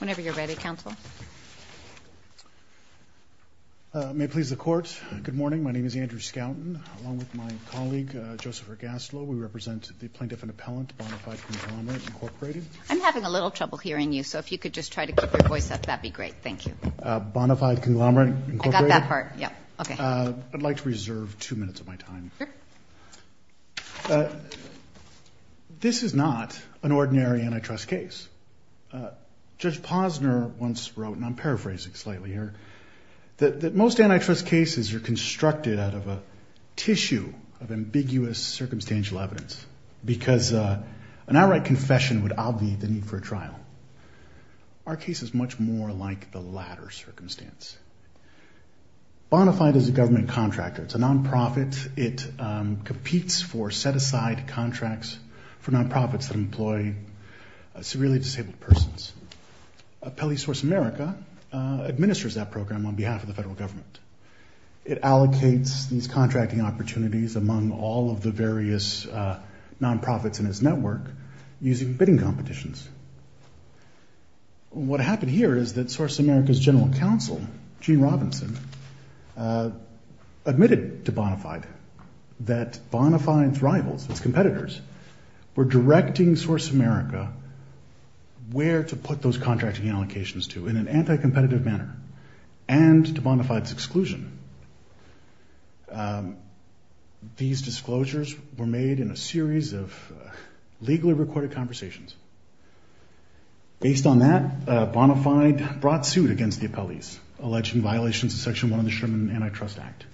Whenever you're ready, Counsel. May it please the Court, good morning. My name is Andrew Skouten, along with my colleague, Joseph Ergaslo. We represent the Plaintiff and Appellant, Bona Fide Conglomerate, Incorporated. I'm having a little trouble hearing you, so if you could just try to keep your voice up, that'd be great. Thank you. Bona Fide Conglomerate, Incorporated. I got that part. Yeah. Okay. I'd like to reserve two minutes of my time. Sure. This is not an ordinary antitrust case. Judge Posner once wrote, and I'm paraphrasing slightly here, that most antitrust cases are constructed out of a tissue of ambiguous circumstantial evidence, because an outright confession would obviate the need for a trial. Our case is much more like the latter circumstance. Bona Fide is a government contractor. It's a nonprofit. It competes for set-aside contracts for nonprofits that employ severely disabled persons. Appellee Source America administers that program on behalf of the federal government. It allocates these contracting opportunities among all of the various nonprofits in its network using bidding competitions. What happened here is that Source America's general counsel, Gene Robinson, admitted to Bona Fide that Bona Fide's rivals, its contracting allocations to, in an anti-competitive manner, and to Bona Fide's exclusion. These disclosures were made in a series of legally recorded conversations. Based on that, Bona Fide brought suit against the appellees, alleging violations of Section 1 of the Sherman Antitrust Act,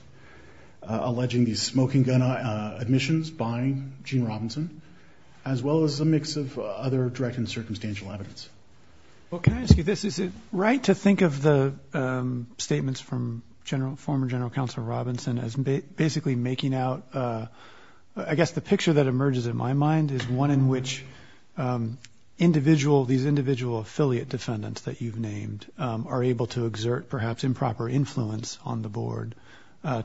alleging these smoking gun admissions by Gene Robinson, as well as a mix of other direct and circumstantial evidence. Well, can I ask you this? Is it right to think of the statements from former General Counsel Robinson as basically making out, I guess the picture that emerges in my mind, is one in which these individual affiliate defendants that you've named are able to exert perhaps improper influence on the board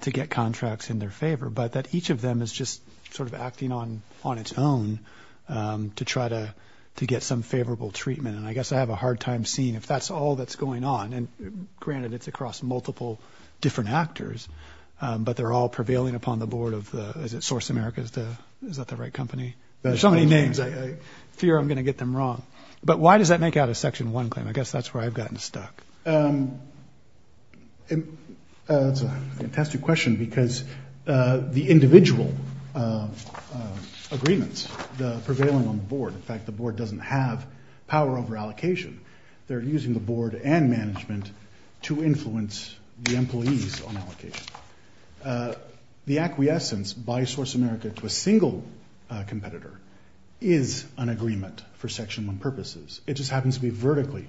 to get contracts in their favor, but that each of them is just sort of acting on its own to try to get some favorable treatment? And I guess I have a hard time seeing if that's all that's going on. And granted, it's across multiple different actors, but they're all prevailing upon the board of the, is it Source America's the, is that the right company? There's so many names, I fear I'm going to get them wrong. But why does that make out a Section 1 claim? I guess that's where I've gotten stuck. That's a fantastic question, because the individual agreements, the prevailing on the board, in fact, the board doesn't have power over allocation. They're using the board and management to influence the employees on allocation. The acquiescence by Source America to a single competitor is an agreement for Section 1 purposes. It just happens to be vertically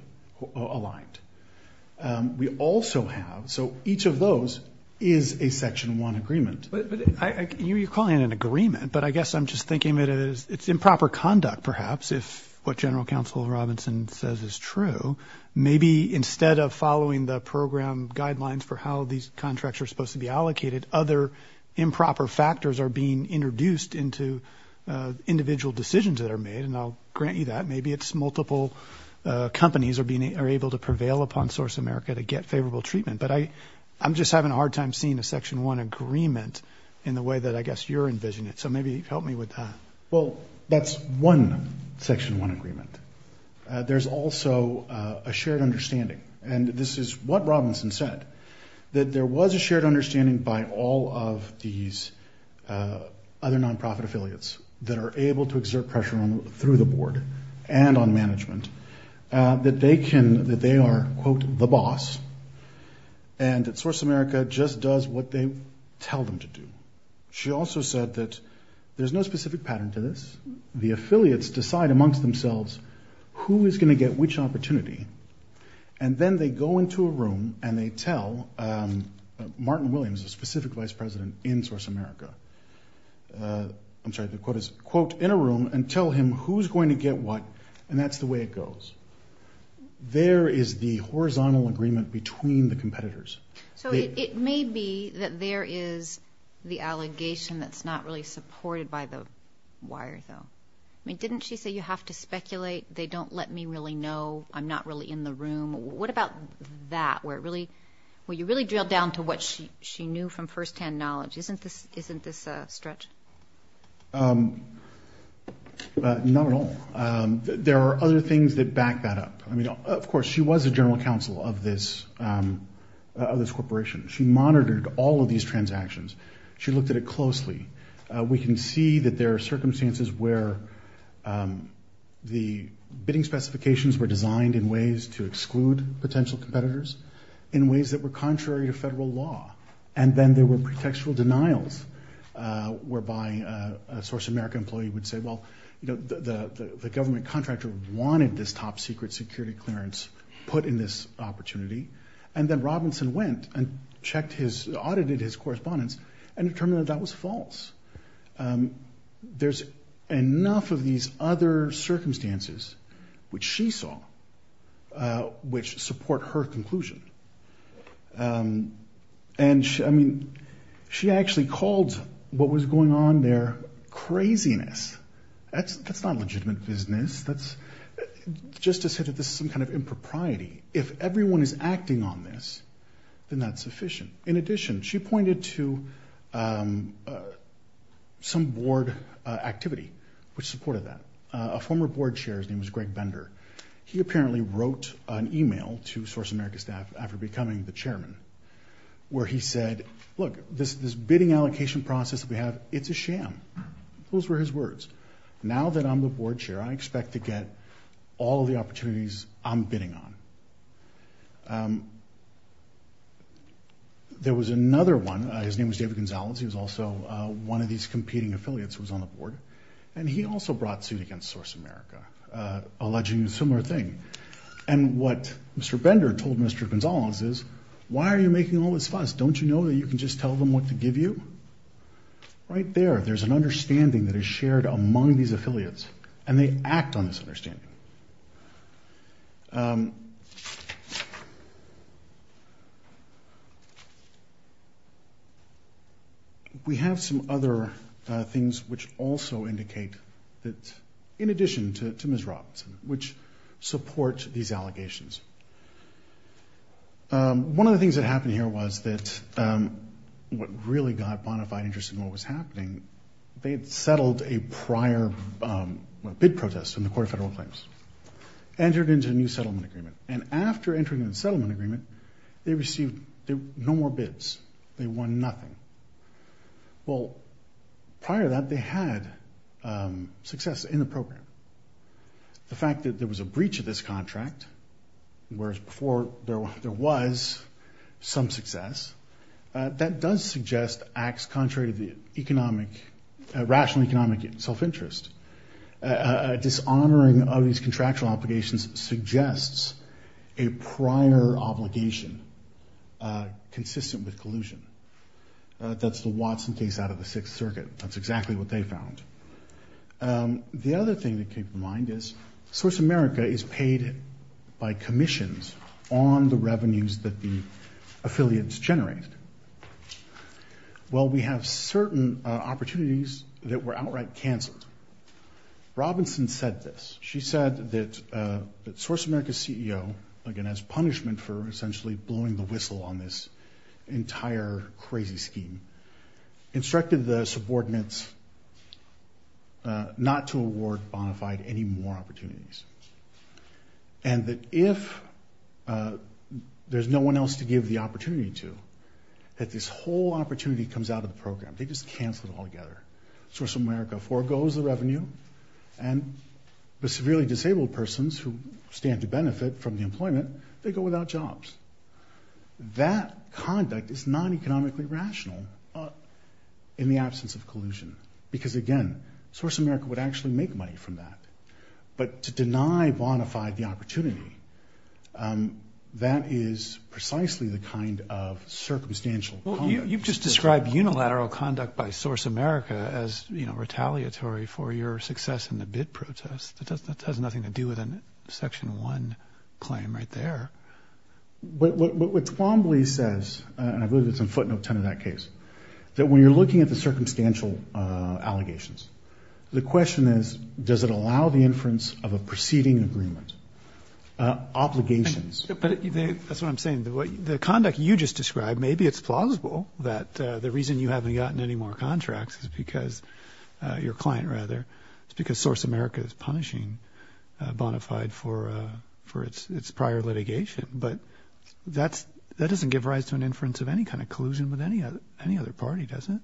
aligned. We also have, so each of those is a Section 1 agreement. You're calling it an agreement, but I guess I'm just thinking that it's improper conduct, perhaps, if what General Counsel Robinson says is true. Maybe instead of following the program guidelines for how these contracts are supposed to be allocated, other improper factors are being introduced into individual decisions that are made. And I'll grant you that. Maybe it's multiple companies are being, are able to prevail upon Source America to get favorable treatment. But I, I'm just having a hard time seeing a Section 1 agreement in the way that I guess you're envisioning it. So maybe help me with that. Well, that's one Section 1 agreement. There's also a shared understanding. And this is what Robinson said, that there was a shared understanding by all of these other nonprofit affiliates that are able to exert and that Source America just does what they tell them to do. She also said that there's no specific pattern to this. The affiliates decide amongst themselves who is going to get which opportunity. And then they go into a room and they tell Martin Williams, a specific vice president in Source America, I'm sorry, the quote is, quote, in a room and tell him who's going to get what. And that's the way it goes. There is the horizontal agreement between the competitors. So it may be that there is the allegation that's not really supported by the wire, though. I mean, didn't she say you have to speculate? They don't let me really know. I'm not really in the room. What about that? Where it really, where you really drilled down to what she, she knew from firsthand knowledge. Isn't this, isn't this a stretch? Um, not at all. There are other things that back that up. I mean, of course, she was a general counsel of this, of this corporation. She monitored all of these transactions. She looked at it closely. We can see that there are circumstances where the bidding specifications were designed in ways to exclude potential competitors in ways that were contrary to federal law. And then there were pretextual denials whereby a Source America employee would say, well, you know, the, the, the government contractor wanted this top secret security clearance put in this opportunity. And then Robinson went and checked his, audited his correspondence and determined that that was false. Um, there's enough of these other circumstances which she saw, uh, which support her conclusion. Um, and I mean, she actually called what was going on there craziness. That's, that's not legitimate business. That's just to say that this is some kind of impropriety. If everyone is acting on this, then that's sufficient. In addition, she pointed to, um, uh, some board activity which supported that. Uh, a former board chair, his name was Greg Bender. He apparently wrote an email to Source America staff after becoming the chairman where he said, look, this, this bidding allocation process that we have, it's a sham. Those were his words. Now that I'm the board chair, I expect to get all the opportunities I'm bidding on. Um, there was another one. Uh, his name was David Gonzalez. He was also, uh, one of these competing affiliates was on the board. And he also brought suit against Source America, uh, alleging a similar thing. And what Mr. Bender told Mr. Gonzalez is, why are you making all this fuss? Don't you know that you can just tell them what to give you? Right there. There's an understanding that is shared among these affiliates and they act on this understanding. Um, we have some other, uh, things which also indicate that in addition to, to Ms. Robinson, which support these allegations. Um, one of the things that happened here was that, um, what really got Bonafide interested in what was happening, they had settled a prior, um, bid protest in the federal claims, entered into a new settlement agreement. And after entering the settlement agreement, they received no more bids. They won nothing. Well, prior to that, they had, um, success in the program. The fact that there was a breach of this contract, whereas before there was some success, uh, that does suggest acts contrary to the economic, uh, dishonoring of these contractual obligations suggests a prior obligation, uh, consistent with collusion. Uh, that's the Watson case out of the sixth circuit. That's exactly what they found. Um, the other thing that came to mind is Source America is paid by commissions on the revenues that the affiliates generated. Well, we have certain opportunities that were outright canceled. Robinson said this. She said that, uh, that Source America CEO, again, as punishment for essentially blowing the whistle on this entire crazy scheme, instructed the subordinates, uh, not to award Bonafide any more opportunities. And that if, uh, there's no one else to give the opportunity to, that this whole opportunity comes out of the program, they just cancel it all together. Source America forgoes the revenue and the severely disabled persons who stand to benefit from the employment, they go without jobs. That conduct is non-economically rational in the absence of collusion. Because again, Source America would actually make money from that. But to deny Bonafide the opportunity, um, that is precisely the kind of circumstantial. Well, you've just described unilateral conduct by Source America as, you know, retaliatory for your success in the bid protest. It doesn't, it has nothing to do with a section one claim right there. But what, what, what Twombly says, and I believe it's in footnote 10 of that case, that when you're looking at the circumstantial, uh, allegations, the question is, does it allow the inference of a proceeding agreement? Uh, obligations. But that's what I'm saying. The conduct you just described, maybe it's plausible that, uh, the reason you haven't gotten any more contracts is because, uh, your client rather, it's because Source America is punishing, uh, Bonafide for, uh, for its, its prior litigation. But that's, that doesn't give rise to an inference of any kind of collusion with any other, any other party, does it?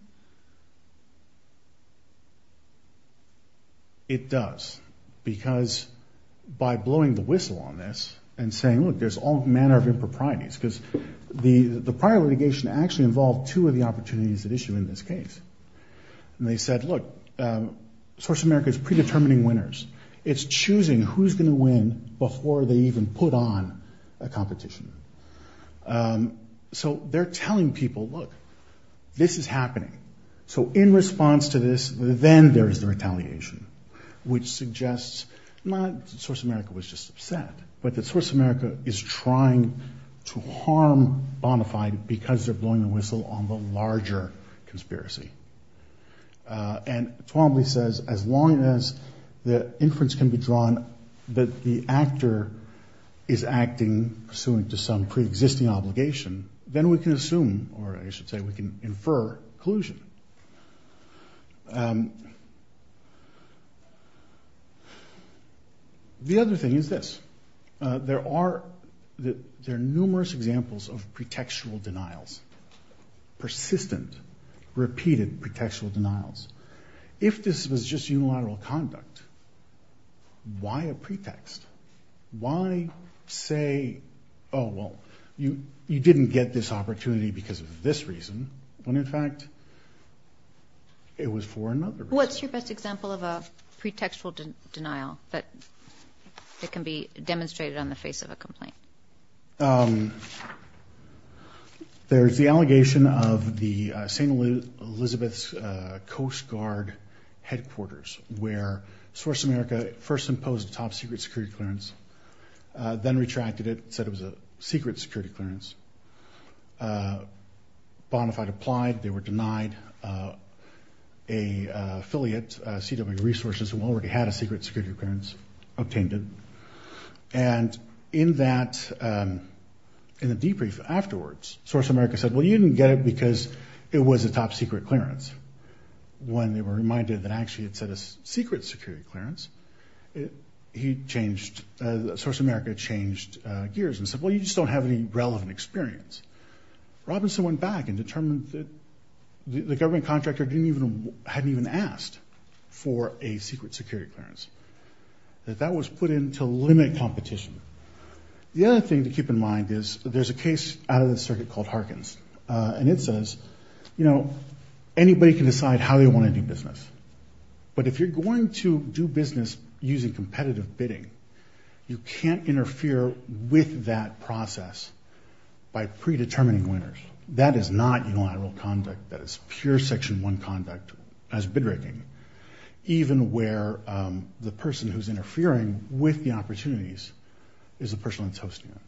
It does because by blowing the whistle on this and saying, look, there's all manner of improprieties because the, the prior litigation actually involved two of the opportunities at issue in this case. And they said, look, um, Source America is predetermining winners. It's choosing who's going to win before they even put on a competition. Um, so they're telling people, look, this is happening. So in response to this, then there is the retaliation, which suggests not Source America was just upset, but that Source America is trying to harm Bonafide because they're blowing the whistle on the larger conspiracy. Uh, and Twombly says, as long as the inference can be drawn that the actor is acting pursuant to some preexisting obligation, then we can assume, or I should say, we can infer collusion. Um, the other thing is this, uh, there are, there are numerous examples of pretextual denials, persistent, repeated pretextual denials. If this was just unilateral conduct, why a pretext? Why say, oh, well, you, you didn't get this opportunity because of this reason when in fact it was for another reason. What's your best example of a pretextual denial that it can be demonstrated on the face of a complaint? Um, there's the allegation of the, uh, St. Elizabeth's, uh, Coast Guard headquarters where Source America first imposed a top secret security clearance, uh, then retracted it, said it was a secret security clearance. Uh, Bonafide applied, they were denied, uh, a, uh, affiliate, uh, CW resources who already had a secret security clearance, obtained it. And in that, um, in the debrief afterwards, Source America said, well, you didn't get it because it was a top secret clearance. When they were reminded that actually it said a secret security clearance, it, he changed, uh, Source America changed gears and said, well, you just don't have any relevant experience. Robinson went back and determined that the government contractor didn't even, hadn't even asked for a secret security clearance. That that was put in to limit competition. The other thing to keep in mind is there's a case out of the circuit called Harkins, uh, and it says, you know, anybody can decide how they want to do business, but if you're going to do business using competitive bidding, you can't interfere with that process by predetermining winners. That is not unilateral conduct. That is pure section one conduct as bid raking, even where, um, the person who's interfering with the opportunities is the person that's hosting it.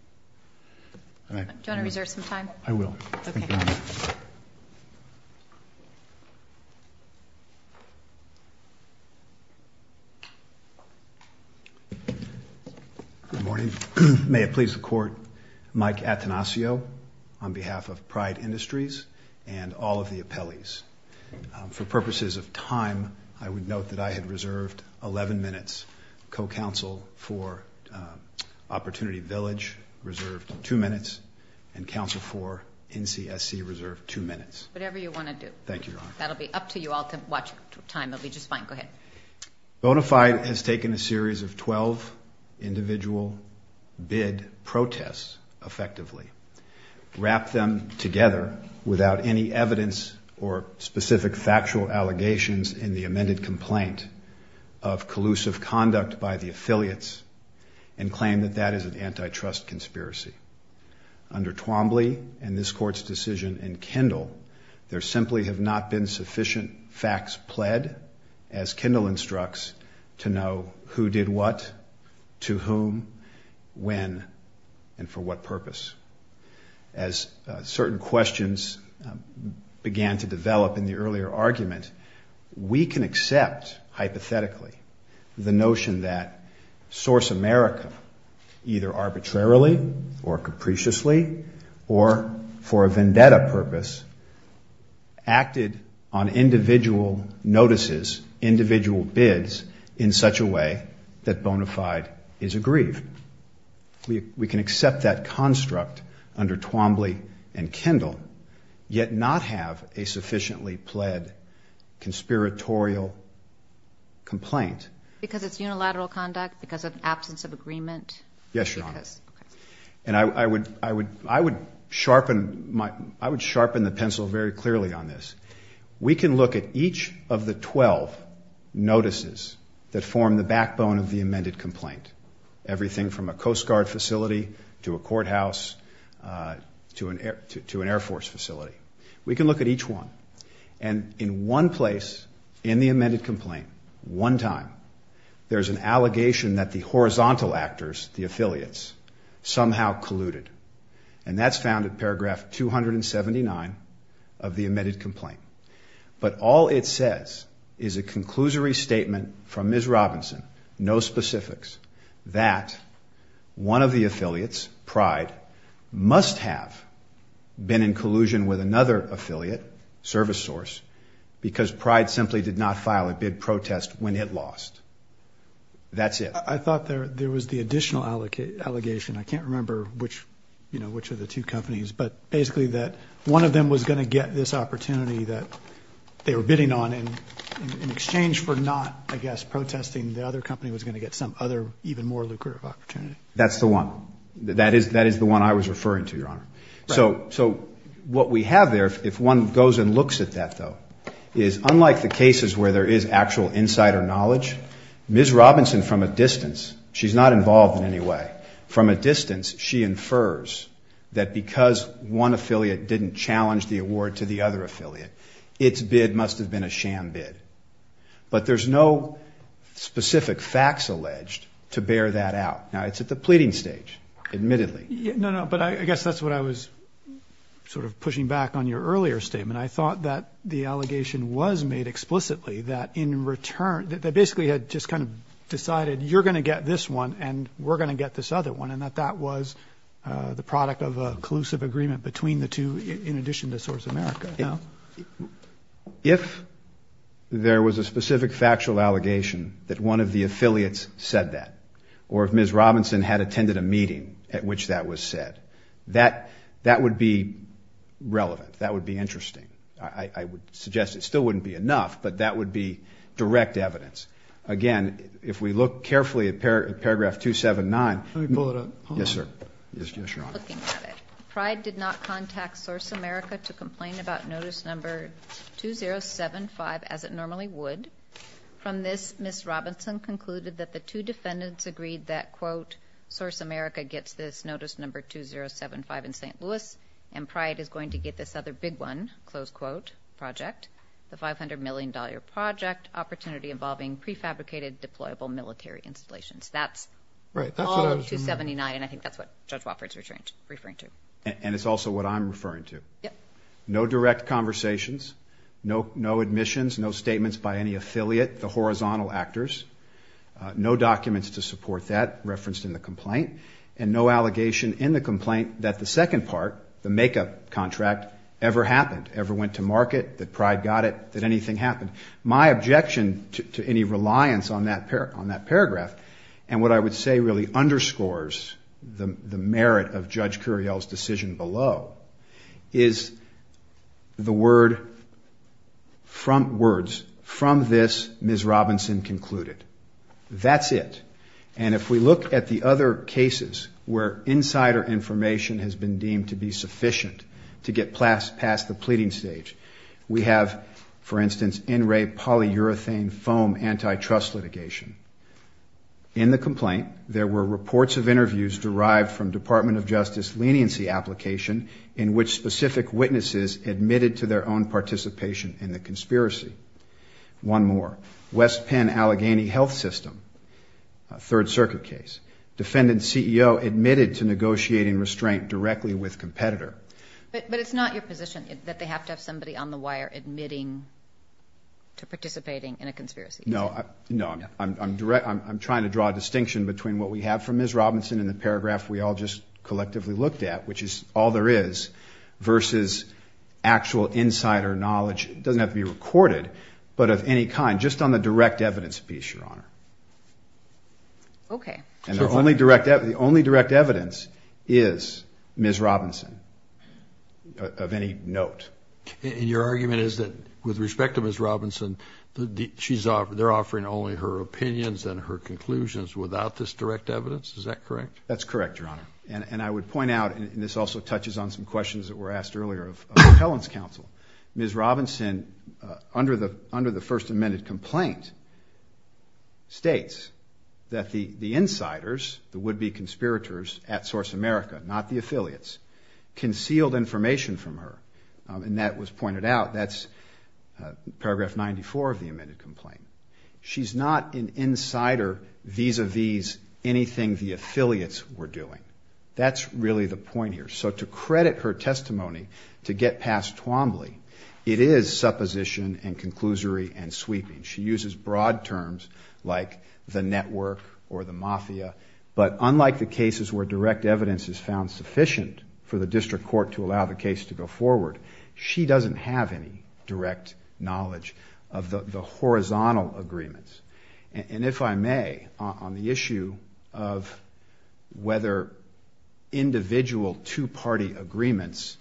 Do you want to reserve some time? I will. Good morning. May it please the court, Mike Atanasio on behalf of Pride Industries and all of the appellees. For purposes of time, I would note that I had reserved 11 minutes, co-counsel for Opportunity Village reserved two minutes and counsel for NCSC reserved two minutes. Whatever you want to do. Thank you, Your Honor. That'll be up to you all to watch time. It'll be just fine. Go ahead. Bonafide has taken a series of 12 individual bid protests effectively, wrapped them together without any evidence or specific factual allegations in the amended complaint of collusive conduct by the affiliates and claim that that is an antitrust conspiracy. Under Twombly and this court's decision in Kendall, there simply have not been sufficient facts pled as Kendall instructs to know who did what, to whom, when, and for what purpose. As certain questions began to develop in the earlier argument, we can accept hypothetically the notion that Source America either arbitrarily or capriciously, or for a vendetta purpose, acted on individual notices, individual bids in such a way that Bonafide is aggrieved. We can accept that construct under Twombly and Kendall, yet not have a sufficiently pled conspiratorial complaint. Because it's unilateral conduct? Because of absence of agreement? Yes, Your Honor. And I would, I would, I would sharpen my, I would sharpen the pencil very clearly on this. We can look at each of the 12 notices that form the backbone of the amended complaint. Everything from a Coast Guard facility to a courthouse, to an air, to an Air Force facility. We can look at each one. And in one place in the amended complaint, one time, there's an allegation that the horizontal actors, the affiliates, somehow colluded. And that's found in paragraph 279 of the amended complaint. But all it says is a conclusory statement from Ms. Because Pride simply did not file a bid protest when it lost. That's it. I thought there was the additional allegation. I can't remember which, you know, which of the two companies. But basically that one of them was going to get this opportunity that they were bidding on. And in exchange for not, I guess, protesting, the other company was going to get some other, even more lucrative opportunity. That's the one. That is, that is the one I was referring to, Your Honor. So, so what we have there, if one goes and looks at that, though, is unlike the cases where there is actual insider knowledge, Ms. Robinson, from a distance, she's not involved in any way, from a distance, she infers that because one affiliate didn't challenge the award to the other affiliate, its bid must have been a sham bid. But there's no specific facts alleged to bear that out. Now it's at the pleading stage, admittedly. No, no. But I guess that's what I was sort of pushing back on your earlier statement. I thought that the allegation was made explicitly that in return, that basically had just kind of decided you're going to get this one and we're going to get this other one. And that that was the product of a collusive agreement between the two, in addition to Source America. If there was a specific factual allegation that one of the affiliates said that, or if Ms. Robinson had attended a meeting at which that was said, that, that would be relevant. That would be interesting. I would suggest it still wouldn't be enough, but that would be direct evidence. Again, if we look carefully at paragraph 279, yes, sir. Looking at it, Pride did not contact Source America to complain about notice number 2075 as it normally would. From this, Ms. Robinson concluded that the two defendants agreed that quote, Source America gets this notice number 2075 in St. Louis and Pride is going to get this other big one, close quote, project the $500 million project opportunity involving prefabricated deployable military installations. That's right. 279. And I think that's what Judge Wofford's referring to. And it's also what I'm referring to. No direct conversations, no, no admissions, no statements by any affiliate, the horizontal actors, no documents to support that referenced in the complaint and no allegation in the complaint that the second part, the makeup contract ever happened, ever went to market, that Pride got it, that anything happened. My objection to any reliance on that pair, on that paragraph. And what I would say really underscores the merit of Judge Curiel's decision below is the words from this, Ms. Robinson concluded. That's it. And if we look at the other cases where insider information has been deemed to be sufficient to get past the pleading stage, we have, for instance, NRA polyurethane foam antitrust litigation. In the complaint, there were reports of interviews derived from Department of Justice leniency application in which specific witnesses admitted to their own participation in the conspiracy. One more, West Penn Allegheny Health System, a third circuit case, defendant CEO admitted to negotiating restraint directly with competitor. But it's not your position that they have to have somebody on the wire admitting to participating in a conspiracy. No, no. I'm trying to draw a distinction between what we have from Ms. Robinson in the paragraph we all just collectively looked at, which is all there is, versus actual insider knowledge. It doesn't have to be recorded, but of any kind, just on the direct evidence piece, Your Honor. Okay. And the only direct evidence is Ms. Robinson of any note. And your argument is that with respect to Ms. Robinson, they're offering only her opinions and her conclusions without this direct evidence. Is that correct? That's correct, Your Honor. And I would point out, and this also touches on some questions that were asked earlier of Helen's counsel, Ms. Robinson, under the first amended complaint, states that the insiders, the would-be conspirators at Source America, not the affiliates, concealed information from her, and that was pointed out. That's paragraph 94 of the amended complaint. She's not an insider vis-a-vis anything the affiliates were doing. That's really the point here. So to credit her testimony, to get past Twombly, it is supposition and conclusory and sweeping. She uses broad terms like the network or the mafia, but unlike the cases where direct evidence is found sufficient for the district court to allow the case to go forward, she doesn't have any direct knowledge of the horizontal agreements. And if I may, on the issue of whether individual two-party agreements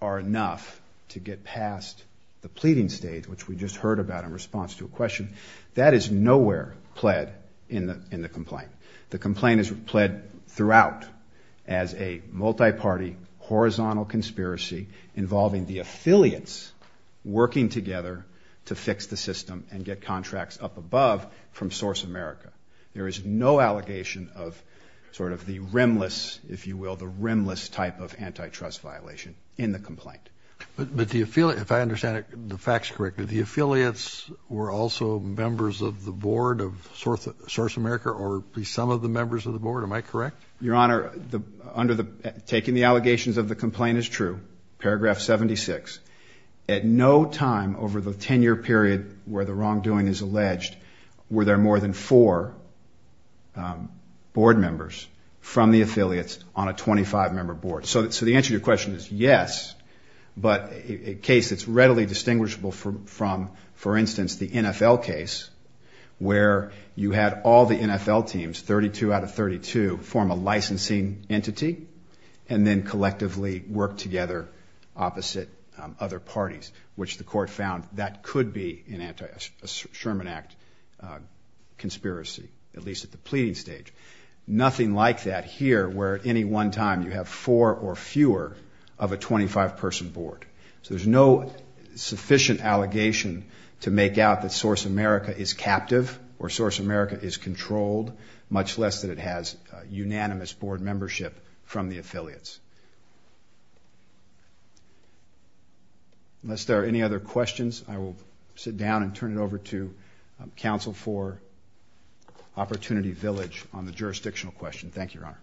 are enough to get past the pleading stage, which we just heard about in response to a question, that is nowhere pled in the complaint. The complaint is pled throughout as a multi-party horizontal conspiracy involving the affiliates working together to fix the system and get contracts up above from Source America. There is no allegation of sort of the rimless, if you will, the rimless type of antitrust violation in the complaint. But do you feel, if I understand the facts correctly, the affiliates were also members of the board of Source America or be some of the members of the board? Am I correct? Your Honor, under the, taking the allegations of the complaint is true, paragraph 76, at no time over the 10-year period where the wrongdoing is alleged, were there more than four board members from the affiliates on a 25-member board. So the answer to your question is yes, but a case that's readily distinguishable from, for instance, the NFL case where you had all the NFL teams, 32 out of 32, form a licensing entity and then collectively work together opposite other parties, which the court found that could be an anti-Sherman Act conspiracy, at least at the pleading stage. Nothing like that here where at any one time you have four or fewer of a 25-person board. So there's no sufficient allegation to make out that Source America is captive or Source America is controlled, much less that it has unanimous board membership from the affiliates. Unless there are any other questions, I will sit down and turn it over to counsel for Opportunity Village on the jurisdictional question. Thank you, Your Honor.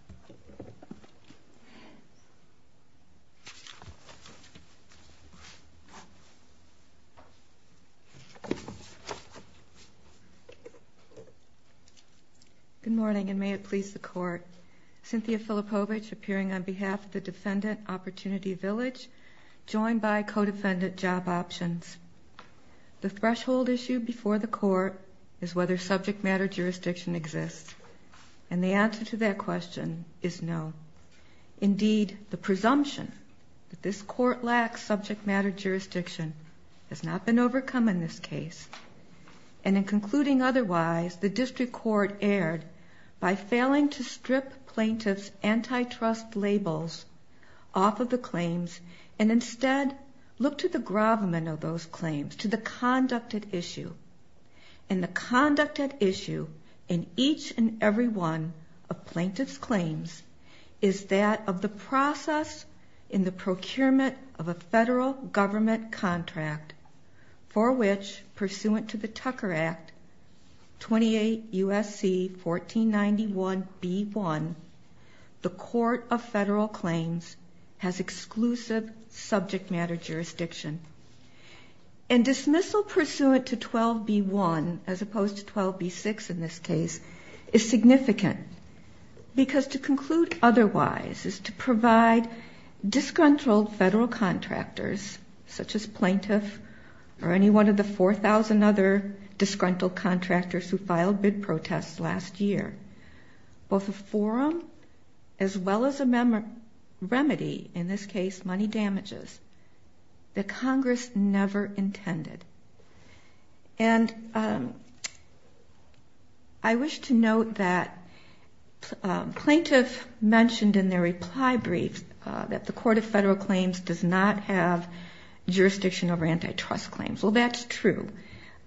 Good morning, and may it please the court. Cynthia Filipovich appearing on behalf of the defendant, Opportunity Village, joined by co-defendant, Job Options. The threshold issue before the court is whether subject matter jurisdiction exists. And the answer to that question is no. Indeed, the presumption that this court lacks subject matter jurisdiction has not been overcome in this case. And in concluding otherwise, the district court erred by failing to strip plaintiffs' antitrust labels off of the claims and instead look to the gravamen of those claims, to the conducted issue. And the conducted issue in each and every one of plaintiffs' claims is that of the process in the procurement of a federal government contract for which, pursuant to the Tucker Act, 28 U.S.C. 1491b1, the court of federal claims has exclusive subject matter jurisdiction. And dismissal pursuant to 12b1, as opposed to 12b6 in this case, is significant because to conclude otherwise is to provide disgruntled federal contractors, such as plaintiff or any one of the 4,000 other disgruntled contractors who filed bid protests last year, both a forum as well as a remedy, in this case money damages, that Congress never intended. And I wish to note that plaintiff mentioned in their reply brief that the court of federal claims does not have jurisdiction over antitrust claims. Well, that's true.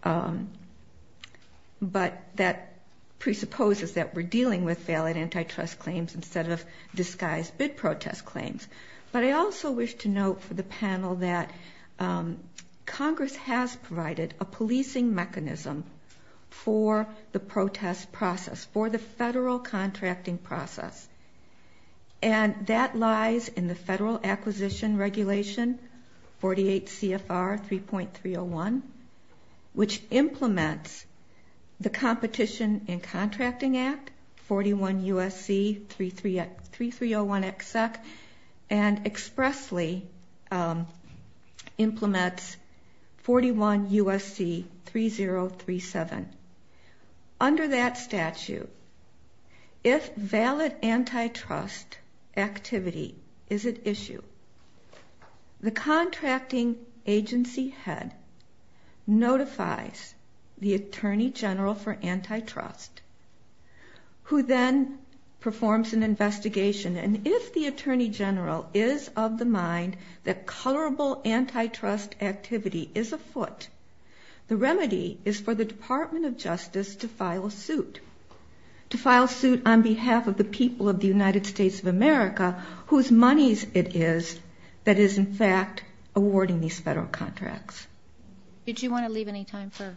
But that presupposes that we're dealing with valid antitrust claims instead of disguised bid protest claims. But I also wish to note for the panel that Congress has provided a policing mechanism for the protest process, for the federal contracting process. And that lies in the Federal Acquisition Regulation, 48 CFR 3.301, which implements the Competition and Contracting Act, 41 U.S.C. 3301xec, and expressly implements 41 U.S.C. 3037. Under that statute, if valid antitrust activity is at issue, the contracting agency head notifies the attorney general for antitrust, who then performs an investigation. And if the attorney general is of the mind that colorable antitrust activity is afoot, the remedy is for the Department of Justice to file a suit. To file a suit on behalf of the people of the United States of America, whose monies it is that is in fact awarding these federal contracts. Did you want to leave any time for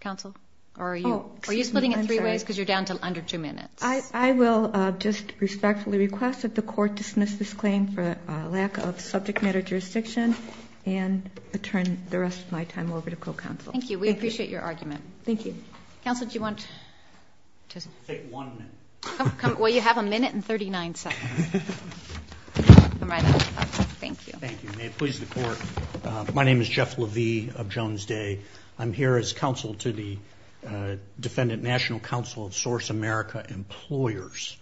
counsel? Or are you splitting it three ways because you're down to under two minutes? I will just respectfully request that the court dismiss this claim for a lack of subject matter jurisdiction, and turn the rest of my time over to co-counsel. Thank you. We appreciate your argument. Thank you. Counsel, do you want to? Take one minute. Well, you have a minute and 39 seconds. Thank you. Thank you. May it please the court. My name is Jeff Levy of Jones Day. I'm here as counsel to the Defendant National Council of Source America Employers.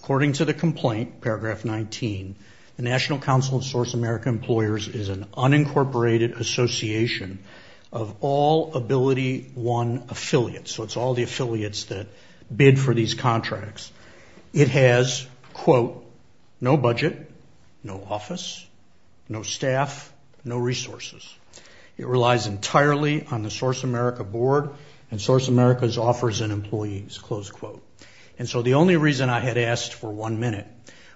According to the complaint, paragraph 19, the National Council of Source America Employers is an unincorporated association of all AbilityOne affiliates. So it's all the affiliates that bid for these contracts. It has, quote, no budget, no office, no staff, no resources. It relies entirely on the Source America board and Source America's offers and employees, close quote. And so the only reason I had asked for one minute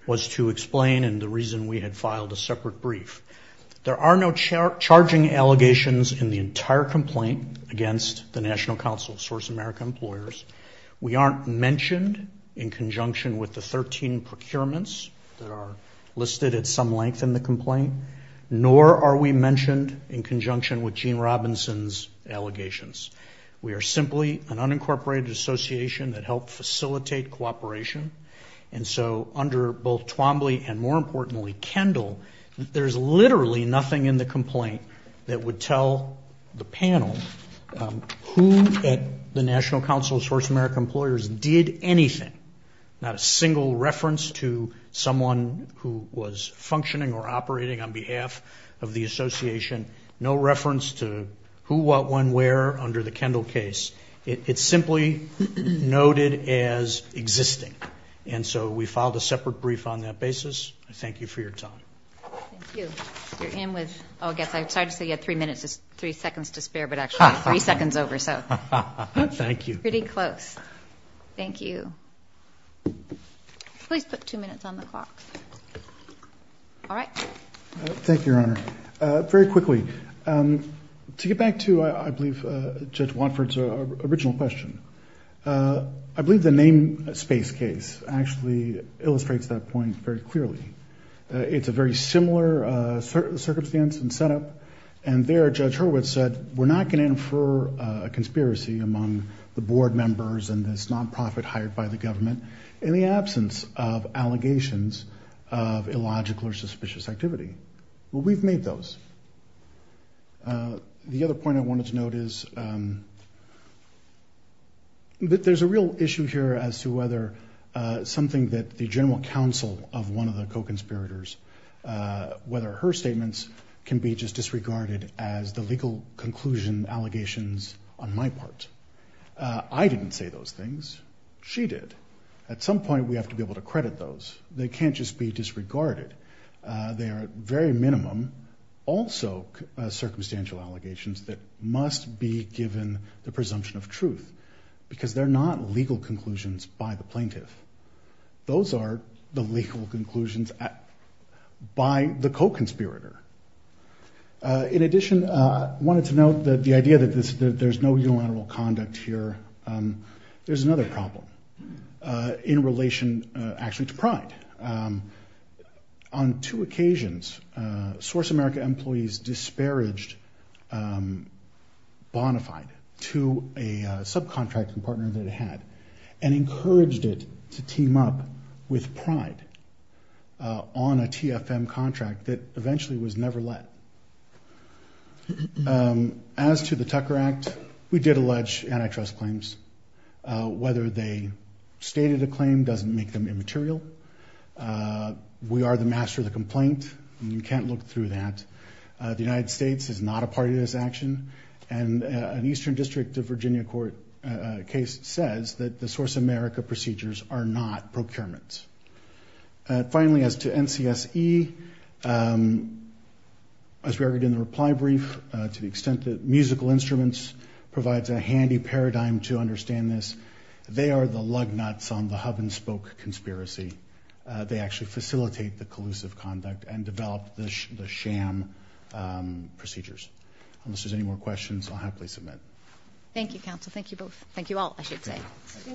was to explain and the reason we had filed a separate brief. There are no charging allegations in the entire complaint against the National Council of Source America Employers. We aren't mentioned in conjunction with the 13 procurements that are listed at some length in the complaint, nor are we mentioned in conjunction with Gene Robinson's allegations. We are simply an unincorporated association that helped facilitate cooperation. And so under both Twombly and, more importantly, Kendall, there's literally nothing in the complaint that would tell the panel who at the National Council of Source America Employers did anything, not a single reference to someone who was functioning or operating on behalf of the association, no reference to who, what, when, where under the Kendall case. It's simply noted as existing. And so we filed a separate brief on that basis. I thank you for your time. Thank you. You're in with all guests. I'm sorry to say you had three minutes, three seconds to spare, but actually three seconds over, so. Thank you. Pretty close. Thank you. Please put two minutes on the clock. All right. Thank you, Your Honor. Very quickly, to get back to, I believe, Judge Watford's original question, I believe the namespace case actually illustrates that point very clearly. It's a very similar circumstance and setup. And there, Judge Hurwitz said, we're not going to infer a conspiracy among the board members and this nonprofit hired by the government in the absence of allegations of illogical or suspicious activity. Well, we've made those. The other point I wanted to note is there's a real issue here as to whether something that the general counsel of one of the co-conspirators, whether her statements can be just disregarded as the legal conclusion allegations on my part. I didn't say those things. She did. At some point, we have to be able to credit those. They can't just be disregarded. They are, at very minimum, also circumstantial allegations that must be given the presumption of truth because they're not legal conclusions by the plaintiff. Those are the legal conclusions by the co-conspirator. In addition, I wanted to note the idea that there's no unilateral conduct here. There's another problem. In relation, actually, to Pride, on two occasions, Source America employees disparaged Bonafide to a subcontracting partner that it had and encouraged it to team up with Pride on a TFM contract that eventually was never let. As to the Tucker Act, we did allege antitrust claims, whether they stated a claim doesn't make them immaterial. We are the master of the complaint. You can't look through that. The United States is not a party to this action, and an Eastern District of Virginia court case says that the Source America procedures are not procurements. Finally, as to NCSE, as we argued in the reply brief, to the extent that musical instruments provides a handy paradigm to understand this, they are the lug nuts on the hub-and-spoke conspiracy. They actually facilitate the collusive conduct and develop the sham procedures. Unless there's any more questions, I'll happily submit. Thank you, counsel. Thank you both. Thank you all, I should say.